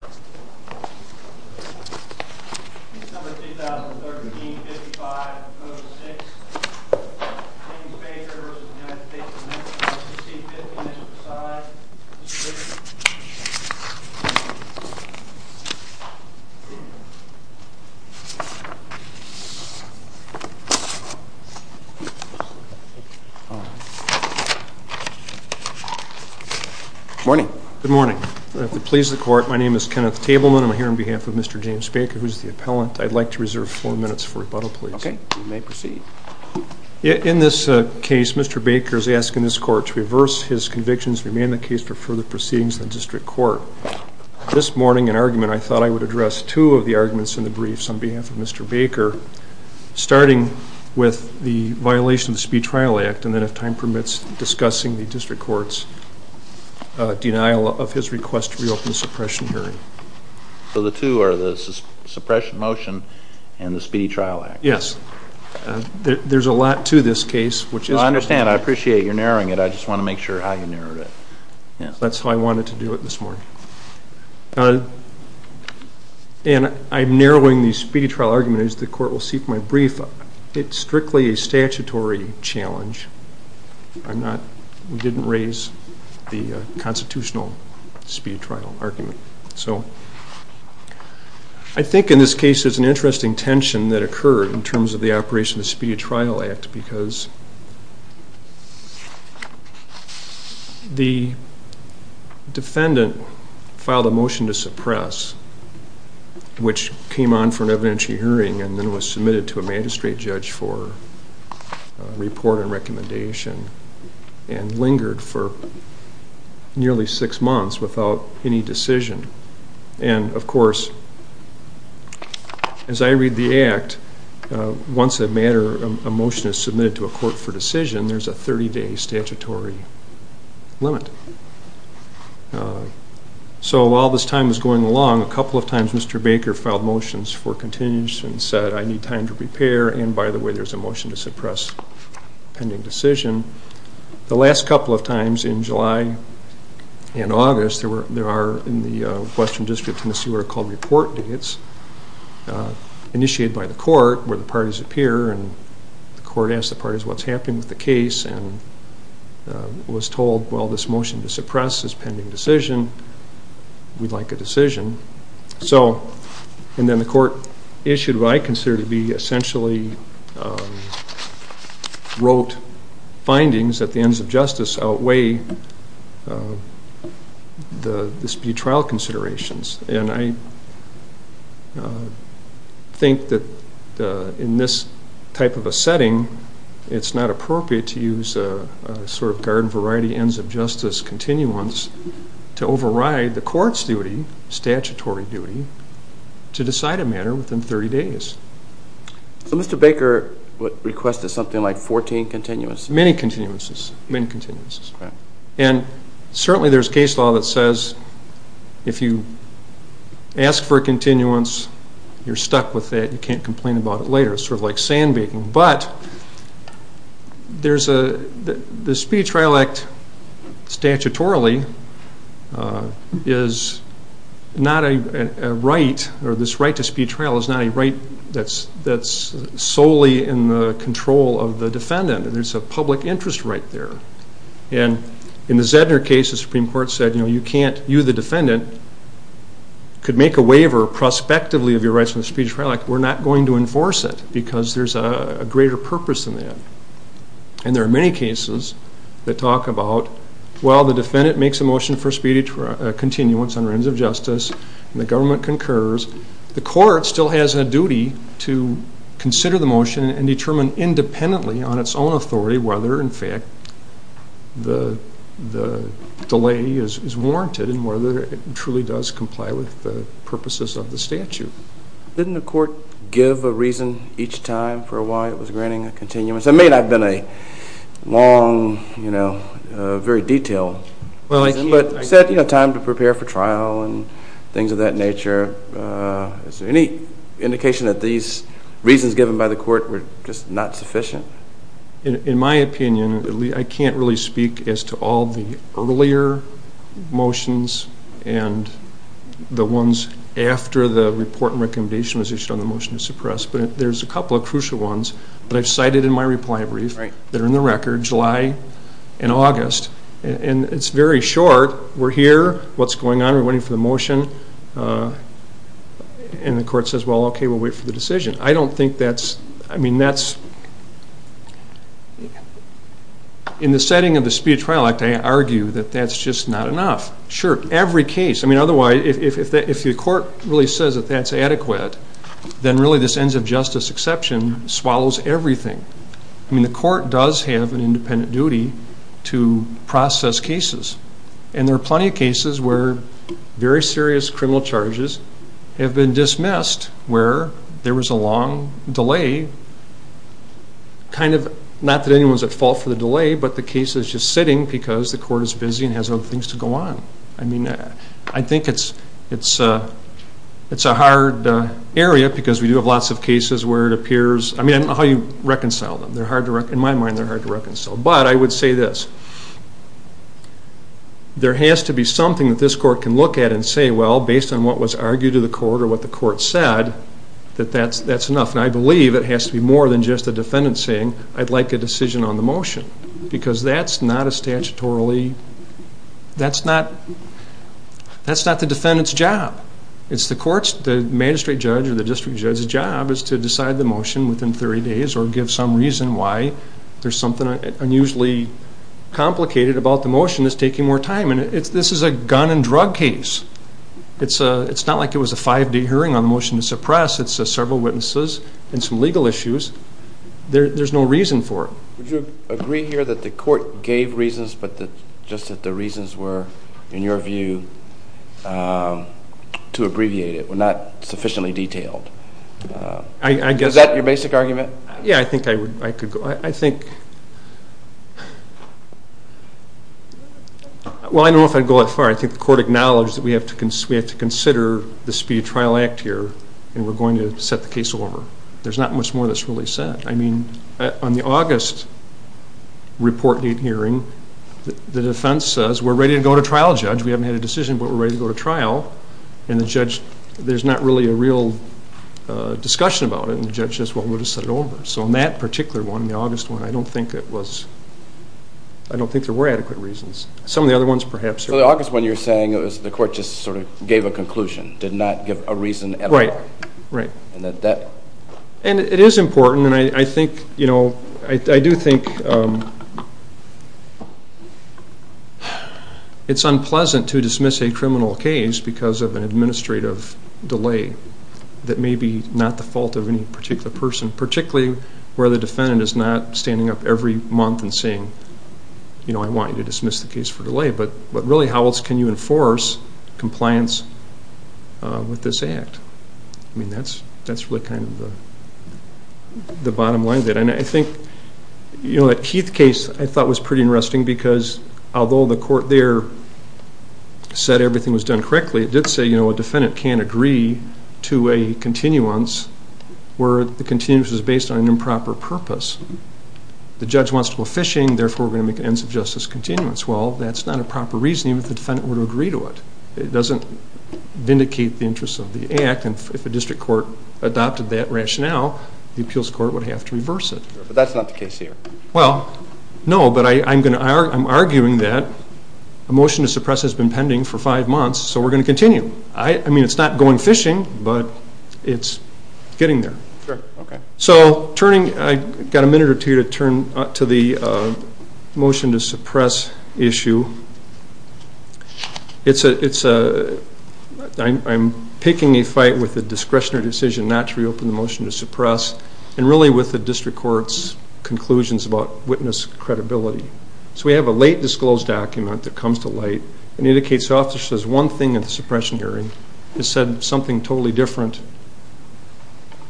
Committee C-15, Mr. Poseidon, and Mr. Griffin. Morning. Good morning. If it pleases the court, my name is Kenneth Tableman. I'm here on behalf of Mr. James Baker, who's the appellant. I'd like to reserve four minutes for rebuttal, please. OK. You may proceed. In this case, Mr. Baker is asking this court to reverse his convictions and remain the case for further proceedings in the district court. This morning, in argument, I thought I would address two of the arguments in the briefs on behalf of Mr. Baker, starting with the violation of the Speed Trial Act, and then, if time permits, discussing the district court's denial of his request to reopen the suppression hearing. So the two are the suppression motion and the Speedy Trial Act. Yes. There's a lot to this case, which is I understand. I appreciate you're narrowing it. I just want to make sure how you narrowed it. That's how I wanted to do it this morning. And I'm narrowing the Speedy Trial argument as the court will seek my brief. It's strictly a statutory challenge. I'm not, we didn't raise the constitutional Speedy Trial argument. So I think, in this case, there's an interesting tension that occurred in terms of the operation of the Speedy Trial Act because the defendant filed a motion to suppress, which came on for an evidentiary hearing and then was submitted to a magistrate judge for report and recommendation and lingered for nearly six months without any decision. And, of course, as I read the act, once a matter, a motion is submitted to a court for decision, there's a 30-day statutory limit. So while this time is going along, a couple of times Mr. Baker filed motions for continuance and said, I need time to prepare. And, by the way, there's a motion to suppress pending decision. The last couple of times, in July and August, there are, in the Western District of Tennessee, what are called report dates initiated by the court where the parties appear. And the court asks the parties what's happening with the case and was told, well, this motion to suppress is pending decision. We'd like a decision. And then the court issued what I consider to be essentially rote findings that the ends of justice outweigh the dispute trial considerations. And I think that in this type of a setting, it's not appropriate to use a sort of garden variety ends of justice continuance to override the court's duty, statutory duty, to decide a matter within 30 days. So Mr. Baker requested something like 14 continuances? Many continuances, many continuances. And certainly there's case law that says if you ask for a continuance, you're stuck with it. You can't complain about it later. It's sort of like sandbaking. But the dispute trial act statutorily is not a right, or this right to dispute trial is not a right that's solely in the control of the defendant. There's a public interest right there. And in the Zedner case, the Supreme Court said you can't, you the defendant, could make a waiver prospectively of your rights in the dispute trial act. We're not going to enforce it because there's a greater purpose than that. And there are many cases that talk about, well, the defendant makes a motion for speedy continuance under ends of justice, and the government concurs. The court still has a duty to consider the motion and determine independently on its own authority whether, in fact, the delay is warranted and whether it truly does comply with the purposes of the statute. Didn't the court give a reason each time for why it was granting a continuance? It may not have been a long, very detailed reason, but it said time to prepare for trial and things of that nature. Is there any indication that these reasons given by the court were just not sufficient? In my opinion, I can't really speak as to all the earlier motions and the ones after the report and recommendation was issued on the motion to suppress, but there's a couple of crucial ones that I've cited in my reply brief that are in the record, July and August. And it's very short. We're here. What's going on? We're waiting for the motion. And the court says, well, okay, we'll wait for the decision. I don't think that's... I mean, that's... In the setting of the dispute trial act, I argue that that's just not enough. Sure, every case... I mean, otherwise, if the court really says that that's adequate, then really this ends of justice exception swallows everything. I mean, the court does have an independent duty to process cases. And there are plenty of cases where very serious criminal charges have been dismissed, where there was a long delay, kind of not that anyone's at fault for the delay, but the case is just sitting because the court is busy and has other things to go on. I mean, I think it's a hard area because we do have lots of cases where it appears... I mean, I don't know how you reconcile them. They're hard to... In my mind, they're hard to reconcile. But I would say this. There has to be something that this court can look at and say, well, based on what was argued to the court or what the court said, that that's enough. And I believe it has to be more than just the defendant saying, I'd like a decision on the motion because that's not a statutorily... That's not the defendant's job. It's the court's, the magistrate judge or the district judge's job is to decide the motion within 30 days or give some reason why there's something unusually complicated about the motion that's taking more time. And this is a gun and drug case. It's not like it was a five-day hearing on the motion to suppress. It's several witnesses and some legal issues. There's no reason for it. Would you agree here that the court gave reasons, but just that the reasons were, in your view, to abbreviate it were not sufficiently detailed? Is that your basic argument? Yeah, I think I could go. I think... Well, I don't know if I'd go that far. I think the court acknowledged that we have to consider the speedy trial act here and we're going to set the case over. There's not much more that's really said. I mean, on the August report date hearing, the defense says, we're ready to go to trial, judge. We haven't had a decision, but we're ready to go to trial. And the judge, there's not really a real discussion about it. And the judge says, well, we'll just set it over. So on that particular one, the August one, I don't think it was, I don't think there were adequate reasons. Some of the other ones, perhaps. So the August one, you're saying the court just sort of gave a conclusion, did not give a reason at all. Right, right. And that that... And it is important, and I think, you know, I do think it's unpleasant to dismiss a criminal case because of an administrative delay that may be not the fault of any particular person, particularly where the defendant is not standing up every month and saying, you know, I want you to dismiss the case for delay. But really, how else can you enforce compliance with this act? I mean, that's really kind of the bottom line of it. And I think, you know, that Heath case, I thought, was pretty interesting because although the court there said everything was done correctly, it did say, you know, a defendant can't agree to a continuance where the continuance is based on an improper purpose. The judge wants to go fishing, therefore, we're going to make an ends of justice continuance. Well, that's not a proper reasoning if the defendant were to agree to it. It doesn't vindicate the interests of the act. And if a district court adopted that rationale, the appeals court would have to reverse it. But that's not the case here. Well, no. But I'm arguing that a motion to suppress has been pending for five months, so we're going to continue. I mean, it's not going fishing, but it's getting there. Sure. OK. So I've got a minute or two to turn to the motion to suppress issue. It's a, I'm picking a fight with the discretionary decision not to reopen the motion to suppress, and really with the district court's conclusions about witness credibility. So we have a late disclosed document that comes to light and indicates the officer says one thing at the suppression hearing. It said something totally different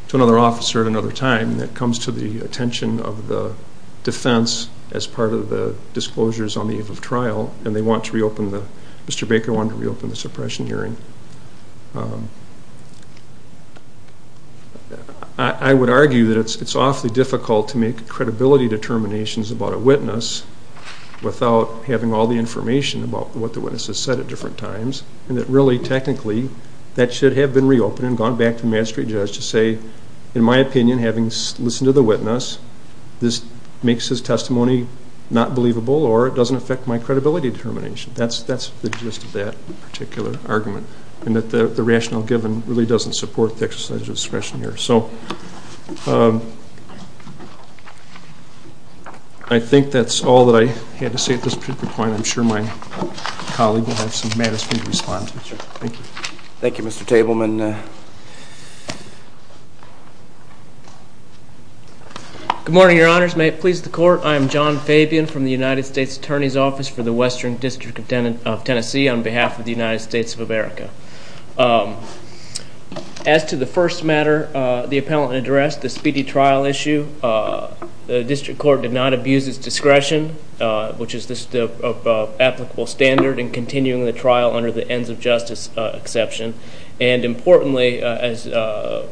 to another officer at another time that comes to the attention of the defense as part of the disclosures on the eve of trial. And they want to reopen the, Mr. Baker wanted to reopen the suppression hearing. I would argue that it's awfully difficult to make credibility determinations about a witness without having all the information about what the witness has said at different times. And that really, technically, that should have been reopened and gone back to the magistrate judge to say, in my opinion, having listened to the witness, this makes his testimony not believable or it doesn't affect my credibility determination. That's the gist of that particular argument. And that the rational given really doesn't support the exercise of discretion here. So I think that's all that I had to say at this point. I'm sure my colleague will have some matters for you to respond to. Thank you. Thank you, Mr. Tableman. Good morning, your honors. May it please the court, I am John Fabian from the United States Attorney's Office for the Western District of Tennessee on behalf of the United States of America. As to the first matter the appellant addressed, the speedy trial issue, the district court did not abuse its discretion, which is the applicable standard in continuing the trial under the ends of justice exception. And importantly, as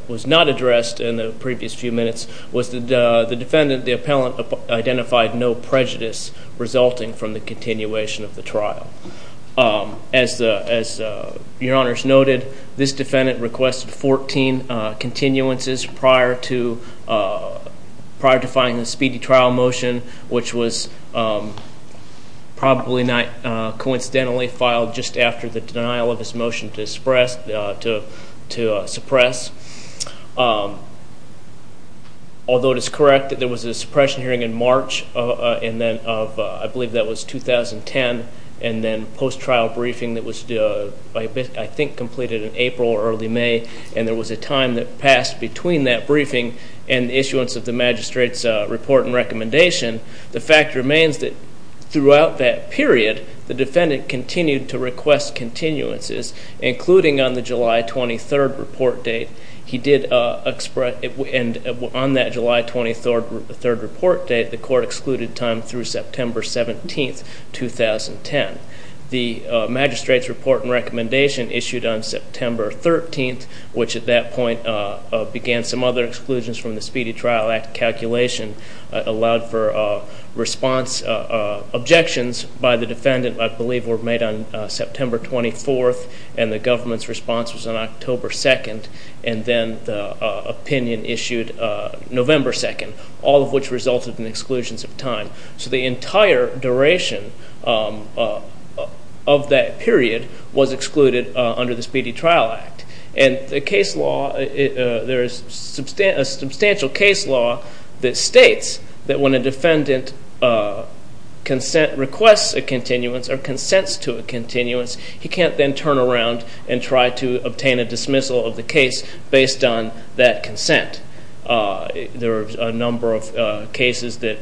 was not addressed in the previous few minutes, was that the defendant, the appellant identified no prejudice resulting from the continuation of the trial. As your honors noted, this defendant requested 14 continuances prior to filing the speedy trial motion, which was probably not coincidentally filed just after the denial of his motion to suppress. Although it is correct that there was a suppression hearing in March of, I believe, that was 2010, and then post-trial briefing that was, I think, completed in April or early May. And there was a time that passed between that briefing and issuance of the magistrate's report and recommendation. The fact remains that throughout that period, the defendant continued to request continuances, including on the July 23 report date, he did express, and on that July 23 report date, the court excluded time through September 17, 2010. The magistrate's report and recommendation issued on September 13, which at that point began some other exclusions from the Speedy Trial Act calculation, allowed for response objections by the defendant, I believe were made on September 24, and the government's response was on October 2. And then the opinion issued November 2, all of which resulted in exclusions of time. So the entire duration of that period was excluded under the Speedy Trial Act. And the case law, there is a substantial case law that states that when a defendant requests a continuance or consents to a continuance, he can't then turn around and try to obtain a dismissal of the case based on that consent. There are a number of cases that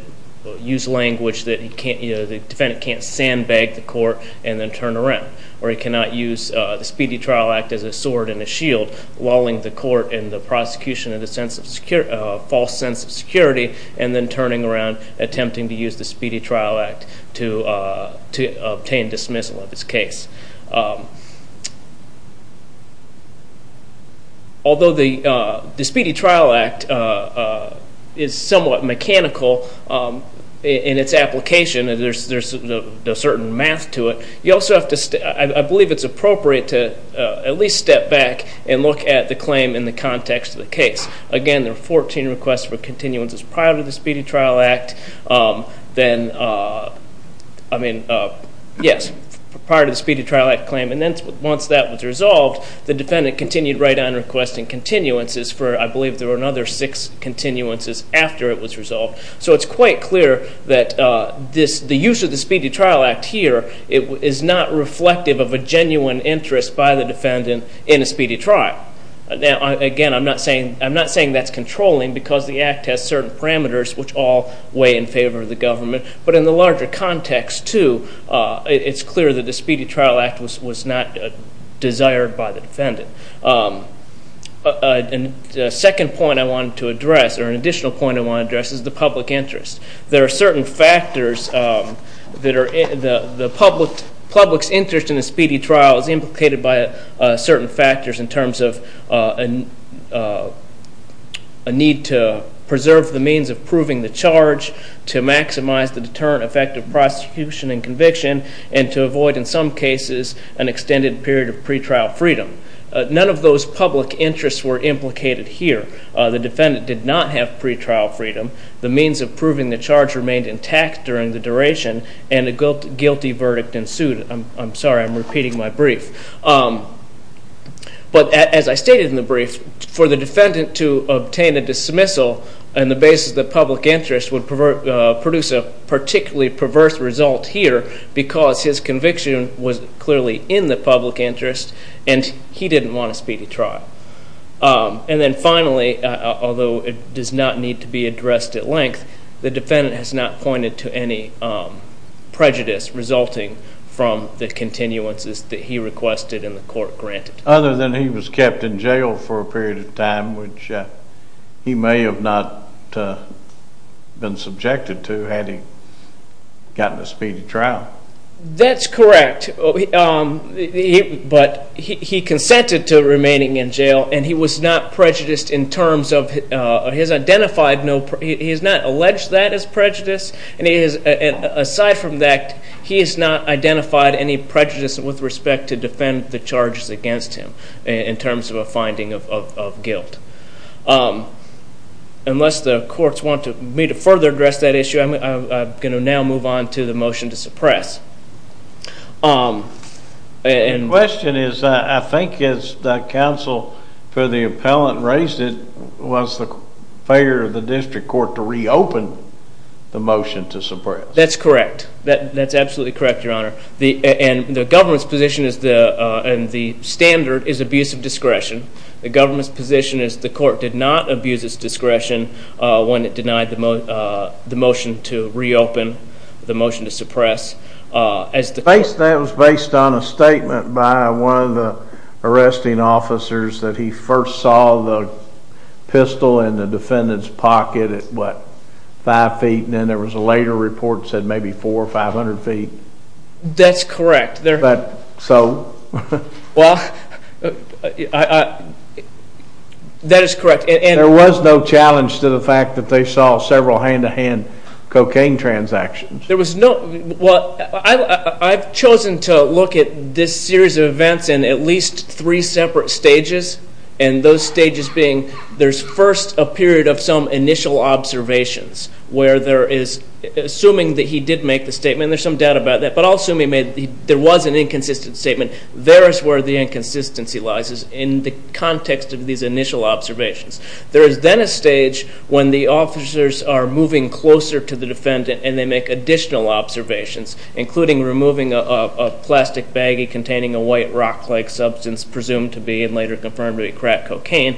use language that the defendant can't sandbag the court and then turn around. Or he cannot use the Speedy Trial Act as a sword and a shield, walling the court and the prosecution in a false sense of security, and then turning around, attempting to use the Speedy Trial Act to obtain dismissal of his case. Although the Speedy Trial Act is somewhat mechanical in its application, there's a certain math to it. You also have to, I believe it's appropriate to at least step back and look at the claim in the context of the case. Again, there are 14 requests for continuances prior to the Speedy Trial Act, then, I mean, yes, prior to the Speedy Trial Act claim. And then once that was resolved, the defendant continued right on requesting continuances for, I believe there were another six continuances after it was resolved. So it's quite clear that the use of the Speedy Trial Act here is not reflective of a genuine interest by the defendant in a Speedy Trial. Now, again, I'm not saying that's controlling, because the act has certain parameters which all weigh in favor of the government. But in the larger context, too, it's clear that the Speedy Trial Act was not desired by the defendant. And the second point I wanted to address, or an additional point I want to address, is the public interest. There are certain factors that are in the public's interest in a Speedy Trial is implicated by certain factors in terms of a need to preserve the means of proving the charge, to maximize the deterrent effect of prosecution and conviction, and to avoid, in some cases, an extended period of pretrial freedom. None of those public interests were implicated here. The defendant did not have pretrial freedom. The means of proving the charge remained intact during the duration. And a guilty verdict ensued. I'm sorry, I'm repeating my brief. But as I stated in the brief, for the defendant to obtain a dismissal on the basis of the public interest would produce a particularly perverse result here, because his conviction was clearly in the public interest, and he didn't want a Speedy Trial. And then finally, although it does not need to be addressed at length, the defendant has not pointed to any prejudice resulting from the continuances that he requested and the court granted. Other than he was kept in jail for a period of time, which he may have not been subjected to, had he gotten a Speedy Trial. That's correct. But he consented to remaining in jail, and he was not prejudiced in terms of his identified no prejudice. He has not alleged that as prejudice. And aside from that, he has not identified any prejudice with respect to defend the charges against him, in terms of a finding of guilt. Unless the courts want me to further address that issue, I'm going to now move on to the motion to suppress. And the question is, I think as the counsel for the appellant raised it, was the failure of the district court to reopen the motion to suppress. That's correct. That's absolutely correct, Your Honor. And the government's position and the standard is abuse of discretion. The government's position is the court did not abuse its discretion when it denied the motion to reopen, the motion to suppress. That was based on a statement by one of the arresting officers that he first saw the pistol in the defendant's pocket at what, five feet? And then there was a later report that said maybe 400 or 500 feet. That's correct. So? Well, that is correct. And there was no challenge to the fact that they saw several hand-to-hand cocaine transactions. There was no, well, I've chosen to look at this series of events in at least three separate stages. And those stages being, there's first a period of some initial observations, where there is, assuming that he did make the statement, and there's some doubt about that, but I'll assume he made, there was an inconsistent statement. There is where the inconsistency lies is in the context of these initial observations. There is then a stage when the officers are moving closer to the defendant, and they make additional observations, including removing a plastic baggie containing a white rock-like substance, presumed to be, and later confirmed to be, crack cocaine,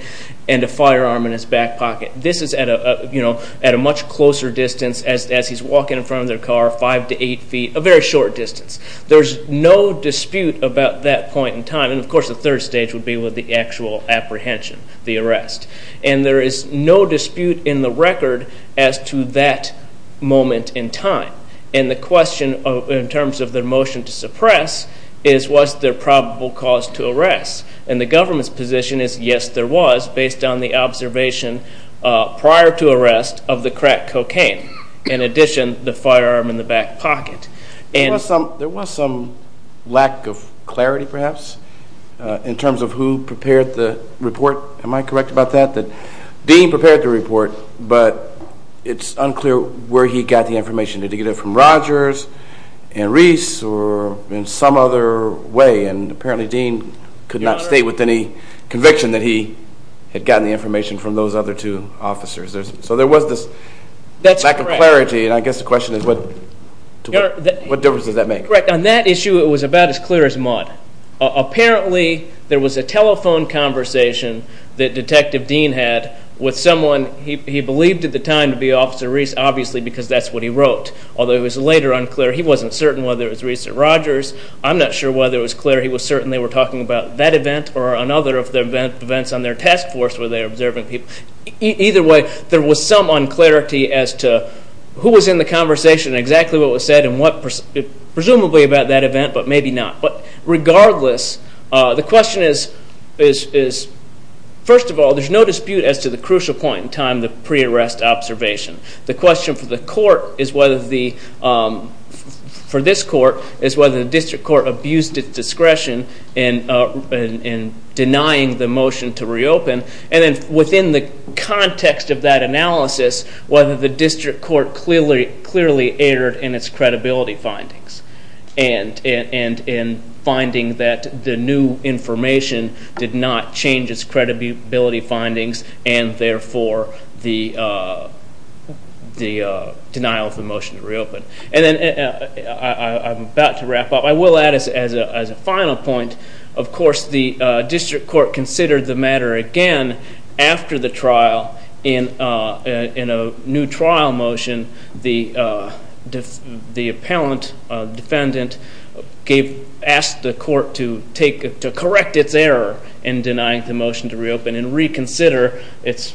and a firearm in his back pocket. This is at a much closer distance as he's walking in front of their car, five to eight feet, a very short distance. There's no dispute about that point in time. And of course, the third stage would be with the actual apprehension, the arrest. And there is no dispute in the record as to that moment in time. And the question, in terms of their motion to suppress, is was there probable cause to arrest? And the government's position is, yes, there was, based on the observation prior to arrest of the crack cocaine, in addition, the firearm in the back pocket. There was some lack of clarity, perhaps, in terms of who prepared the report. Am I correct about that, that Dean prepared the report, but it's unclear where he got the information. Did he get it from Rogers, and Reese, or in some other way? And apparently, Dean could not state with any conviction that he had gotten the information from those other two officers. So there was this lack of clarity. And I guess the question is, what difference does that make? Correct. On that issue, it was about as clear as mud. Apparently, there was a telephone conversation that Detective Dean had with someone he believed at the time to be Officer Reese, obviously, because that's what he wrote. Although it was later unclear. He wasn't certain whether it was Reese or Rogers. I'm not sure whether it was clear he was certain they were talking about that event or another of the events on their task force where they were observing people. Either way, there was some unclarity as to who was in the conversation, exactly what was said, and presumably about that event, but maybe not. But regardless, the question is, first of all, there's no dispute as to the crucial point in time, the pre-arrest observation. The question for this court is whether the district court abused its discretion in denying the motion to reopen. And then within the context of that analysis, whether the district court clearly erred in its credibility findings and in finding that the new information did not change its credibility findings, and therefore the denial of the motion to reopen. And then I'm about to wrap up. I will add as a final point, of course, the district court considered the matter again after the trial in a new trial motion. The appellant defendant asked the court to correct its error in denying the motion to reopen and reconsider its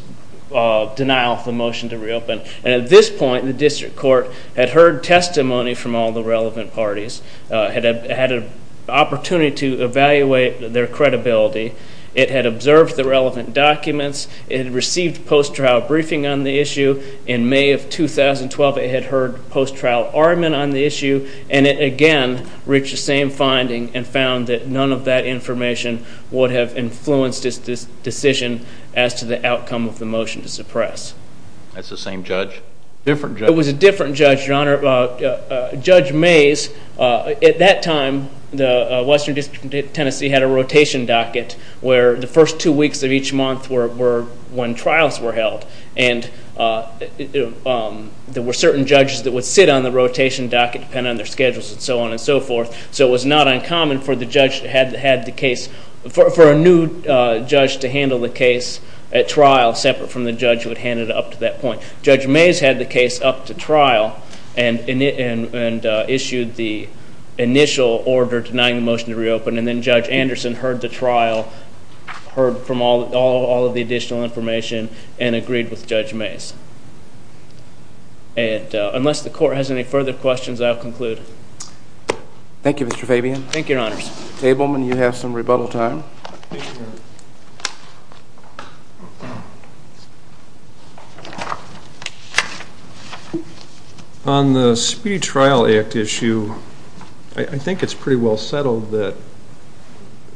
denial of the motion to reopen. And at this point, the district court had heard testimony from all the relevant parties, had an opportunity to evaluate their credibility. It had observed the relevant documents. It had received post-trial briefing on the issue. In May of 2012, it had heard post-trial argument on the issue. And it, again, reached the same finding and found that none of that information would have influenced its decision as to the outcome of the motion to suppress. That's the same judge? Different judge? It was a different judge, Your Honor. Judge Mays, at that time, the Western District of Tennessee had a rotation docket, where the first two weeks of each month were when trials were held. And there were certain judges that would sit on the rotation docket, depending on their schedules, and so on and so forth. So it was not uncommon for a new judge to handle the case at trial separate from the judge who Judge Mays had the case up to trial. And issued the initial order denying the motion to reopen. And then Judge Anderson heard the trial, heard from all of the additional information, and agreed with Judge Mays. And unless the court has any further questions, I'll conclude. Thank you, Mr. Fabian. Thank you, Your Honors. Tableman, you have some rebuttal time. On the Speedy Trial Act issue, I think it's pretty well settled that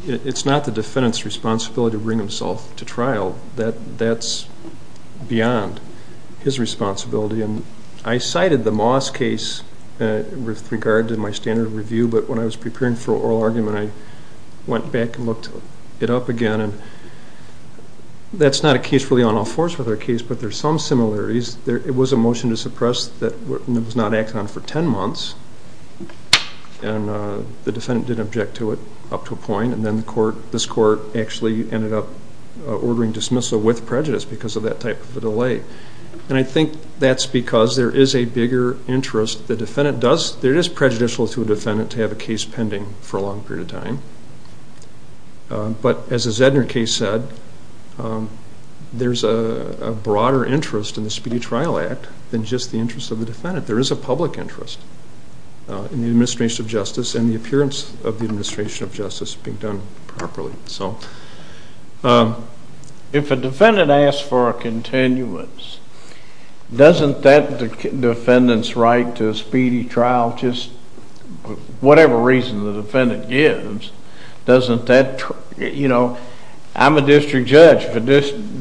it's not the defendant's responsibility to bring himself to trial. That's beyond his responsibility. And I cited the Moss case with regard to my standard review. But when I was preparing for oral argument, I went back and looked it up again. And that's not a case really on all fours with our case, but there's some similarities. It was a motion to suppress that was not acted on for 10 months. And the defendant didn't object to it up to a point. And then this court actually ended up ordering dismissal with prejudice because of that type of a delay. And I think that's because there is a bigger interest. The defendant does, there is prejudicial to a defendant to have a case pending for a long period of time. But as the Zedner case said, there's a broader interest in the Speedy Trial Act than just the interest of the defendant. There is a public interest in the administration of justice and the appearance of the administration of justice being done properly. So if a defendant asks for a continuance, doesn't that defendant's right to a speedy trial, just whatever reason the defendant gives, doesn't that, you know, I'm a district judge. If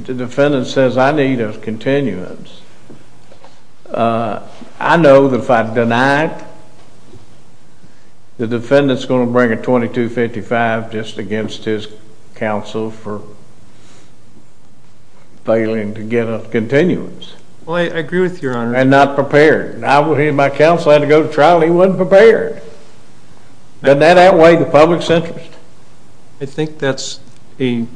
the defendant says, I need a continuance, I know that if I deny it, the defendant's going to bring a $2,255 just against his counsel for failing to get a continuance. Well, I agree with your honor. And not prepared. I believe my counsel had to go to trial. He wasn't prepared. Doesn't that outweigh the public's interest? I think that's a,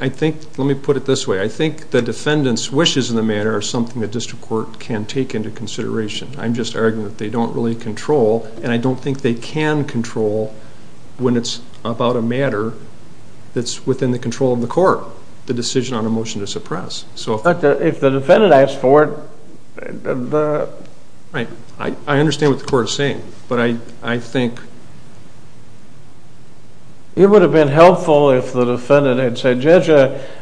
I think. Let me put it this way. I think the defendant's wishes in the matter are something the district court can take into consideration. I'm just arguing that they don't really control. And I don't think they can control when it's about a matter that's within the control of the court, the decision on a motion to suppress. So if the defendant asks for it, the. Right. I understand what the court is saying. But I think. It would have been helpful if the defendant had said, Judge,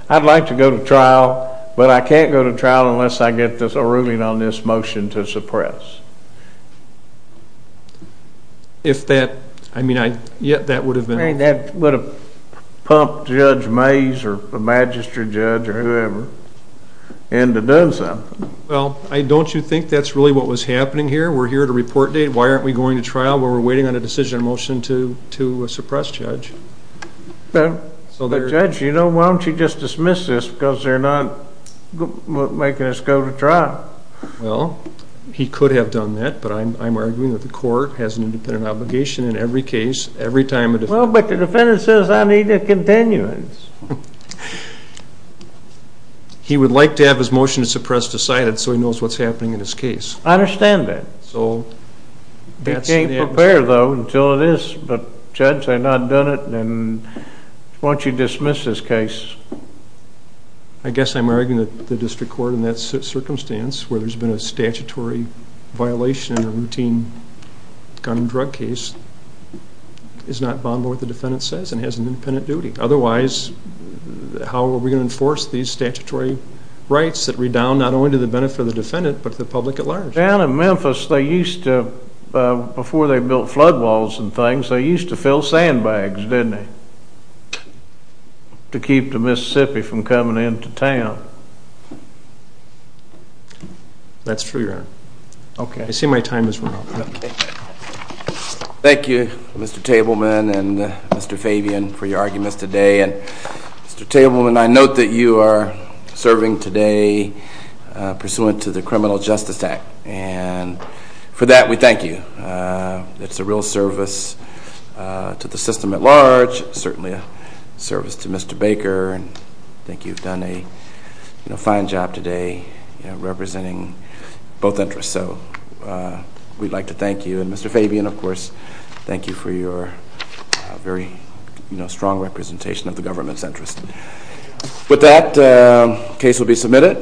I'd like to go to trial. But I can't go to trial unless I get a ruling on this motion to suppress. If that, I mean, that would have been. That would have pumped Judge Mays or a magistrate judge or whoever into doing something. Well, don't you think that's really what was happening here? We're here to report a date. Why aren't we going to trial? We're waiting on a decision or motion to suppress, Judge. Well, Judge, you know, why don't you just dismiss this? Because they're not making us go to trial. Well, he could have done that. But I'm arguing that the court has an independent obligation in every case, every time a defendant. Well, but the defendant says, I need a continuance. He would like to have his motion to suppress decided, so he knows what's happening in his case. I understand that. So. They can't prepare, though, until it is. But Judge, they've not done it. And why don't you dismiss this case? I guess I'm arguing that the district court, in that circumstance, where there's been a statutory violation in a routine gun and drug case, is not bound by what the defendant says and has an independent duty. Otherwise, how are we going to enforce these statutory rights that redound not only to the benefit of the defendant, but to the public at large? Down in Memphis, they used to, before they built flood walls and things, they used to fill sandbags, didn't they? To keep the Mississippi from coming into town. That's true, Your Honor. OK, I see my time is up. Thank you, Mr. Tableman and Mr. Fabian, for your arguments today. And Mr. Tableman, I note that you are serving today pursuant to the Criminal Justice Act. And for that, we thank you. It's a real service to the system at large, certainly a service to Mr. Baker. And I think you've done a fine job today representing both interests. So we'd like to thank you. And Mr. Fabian, of course, thank you for your very strong representation of the government's interest. With that, the case will be submitted.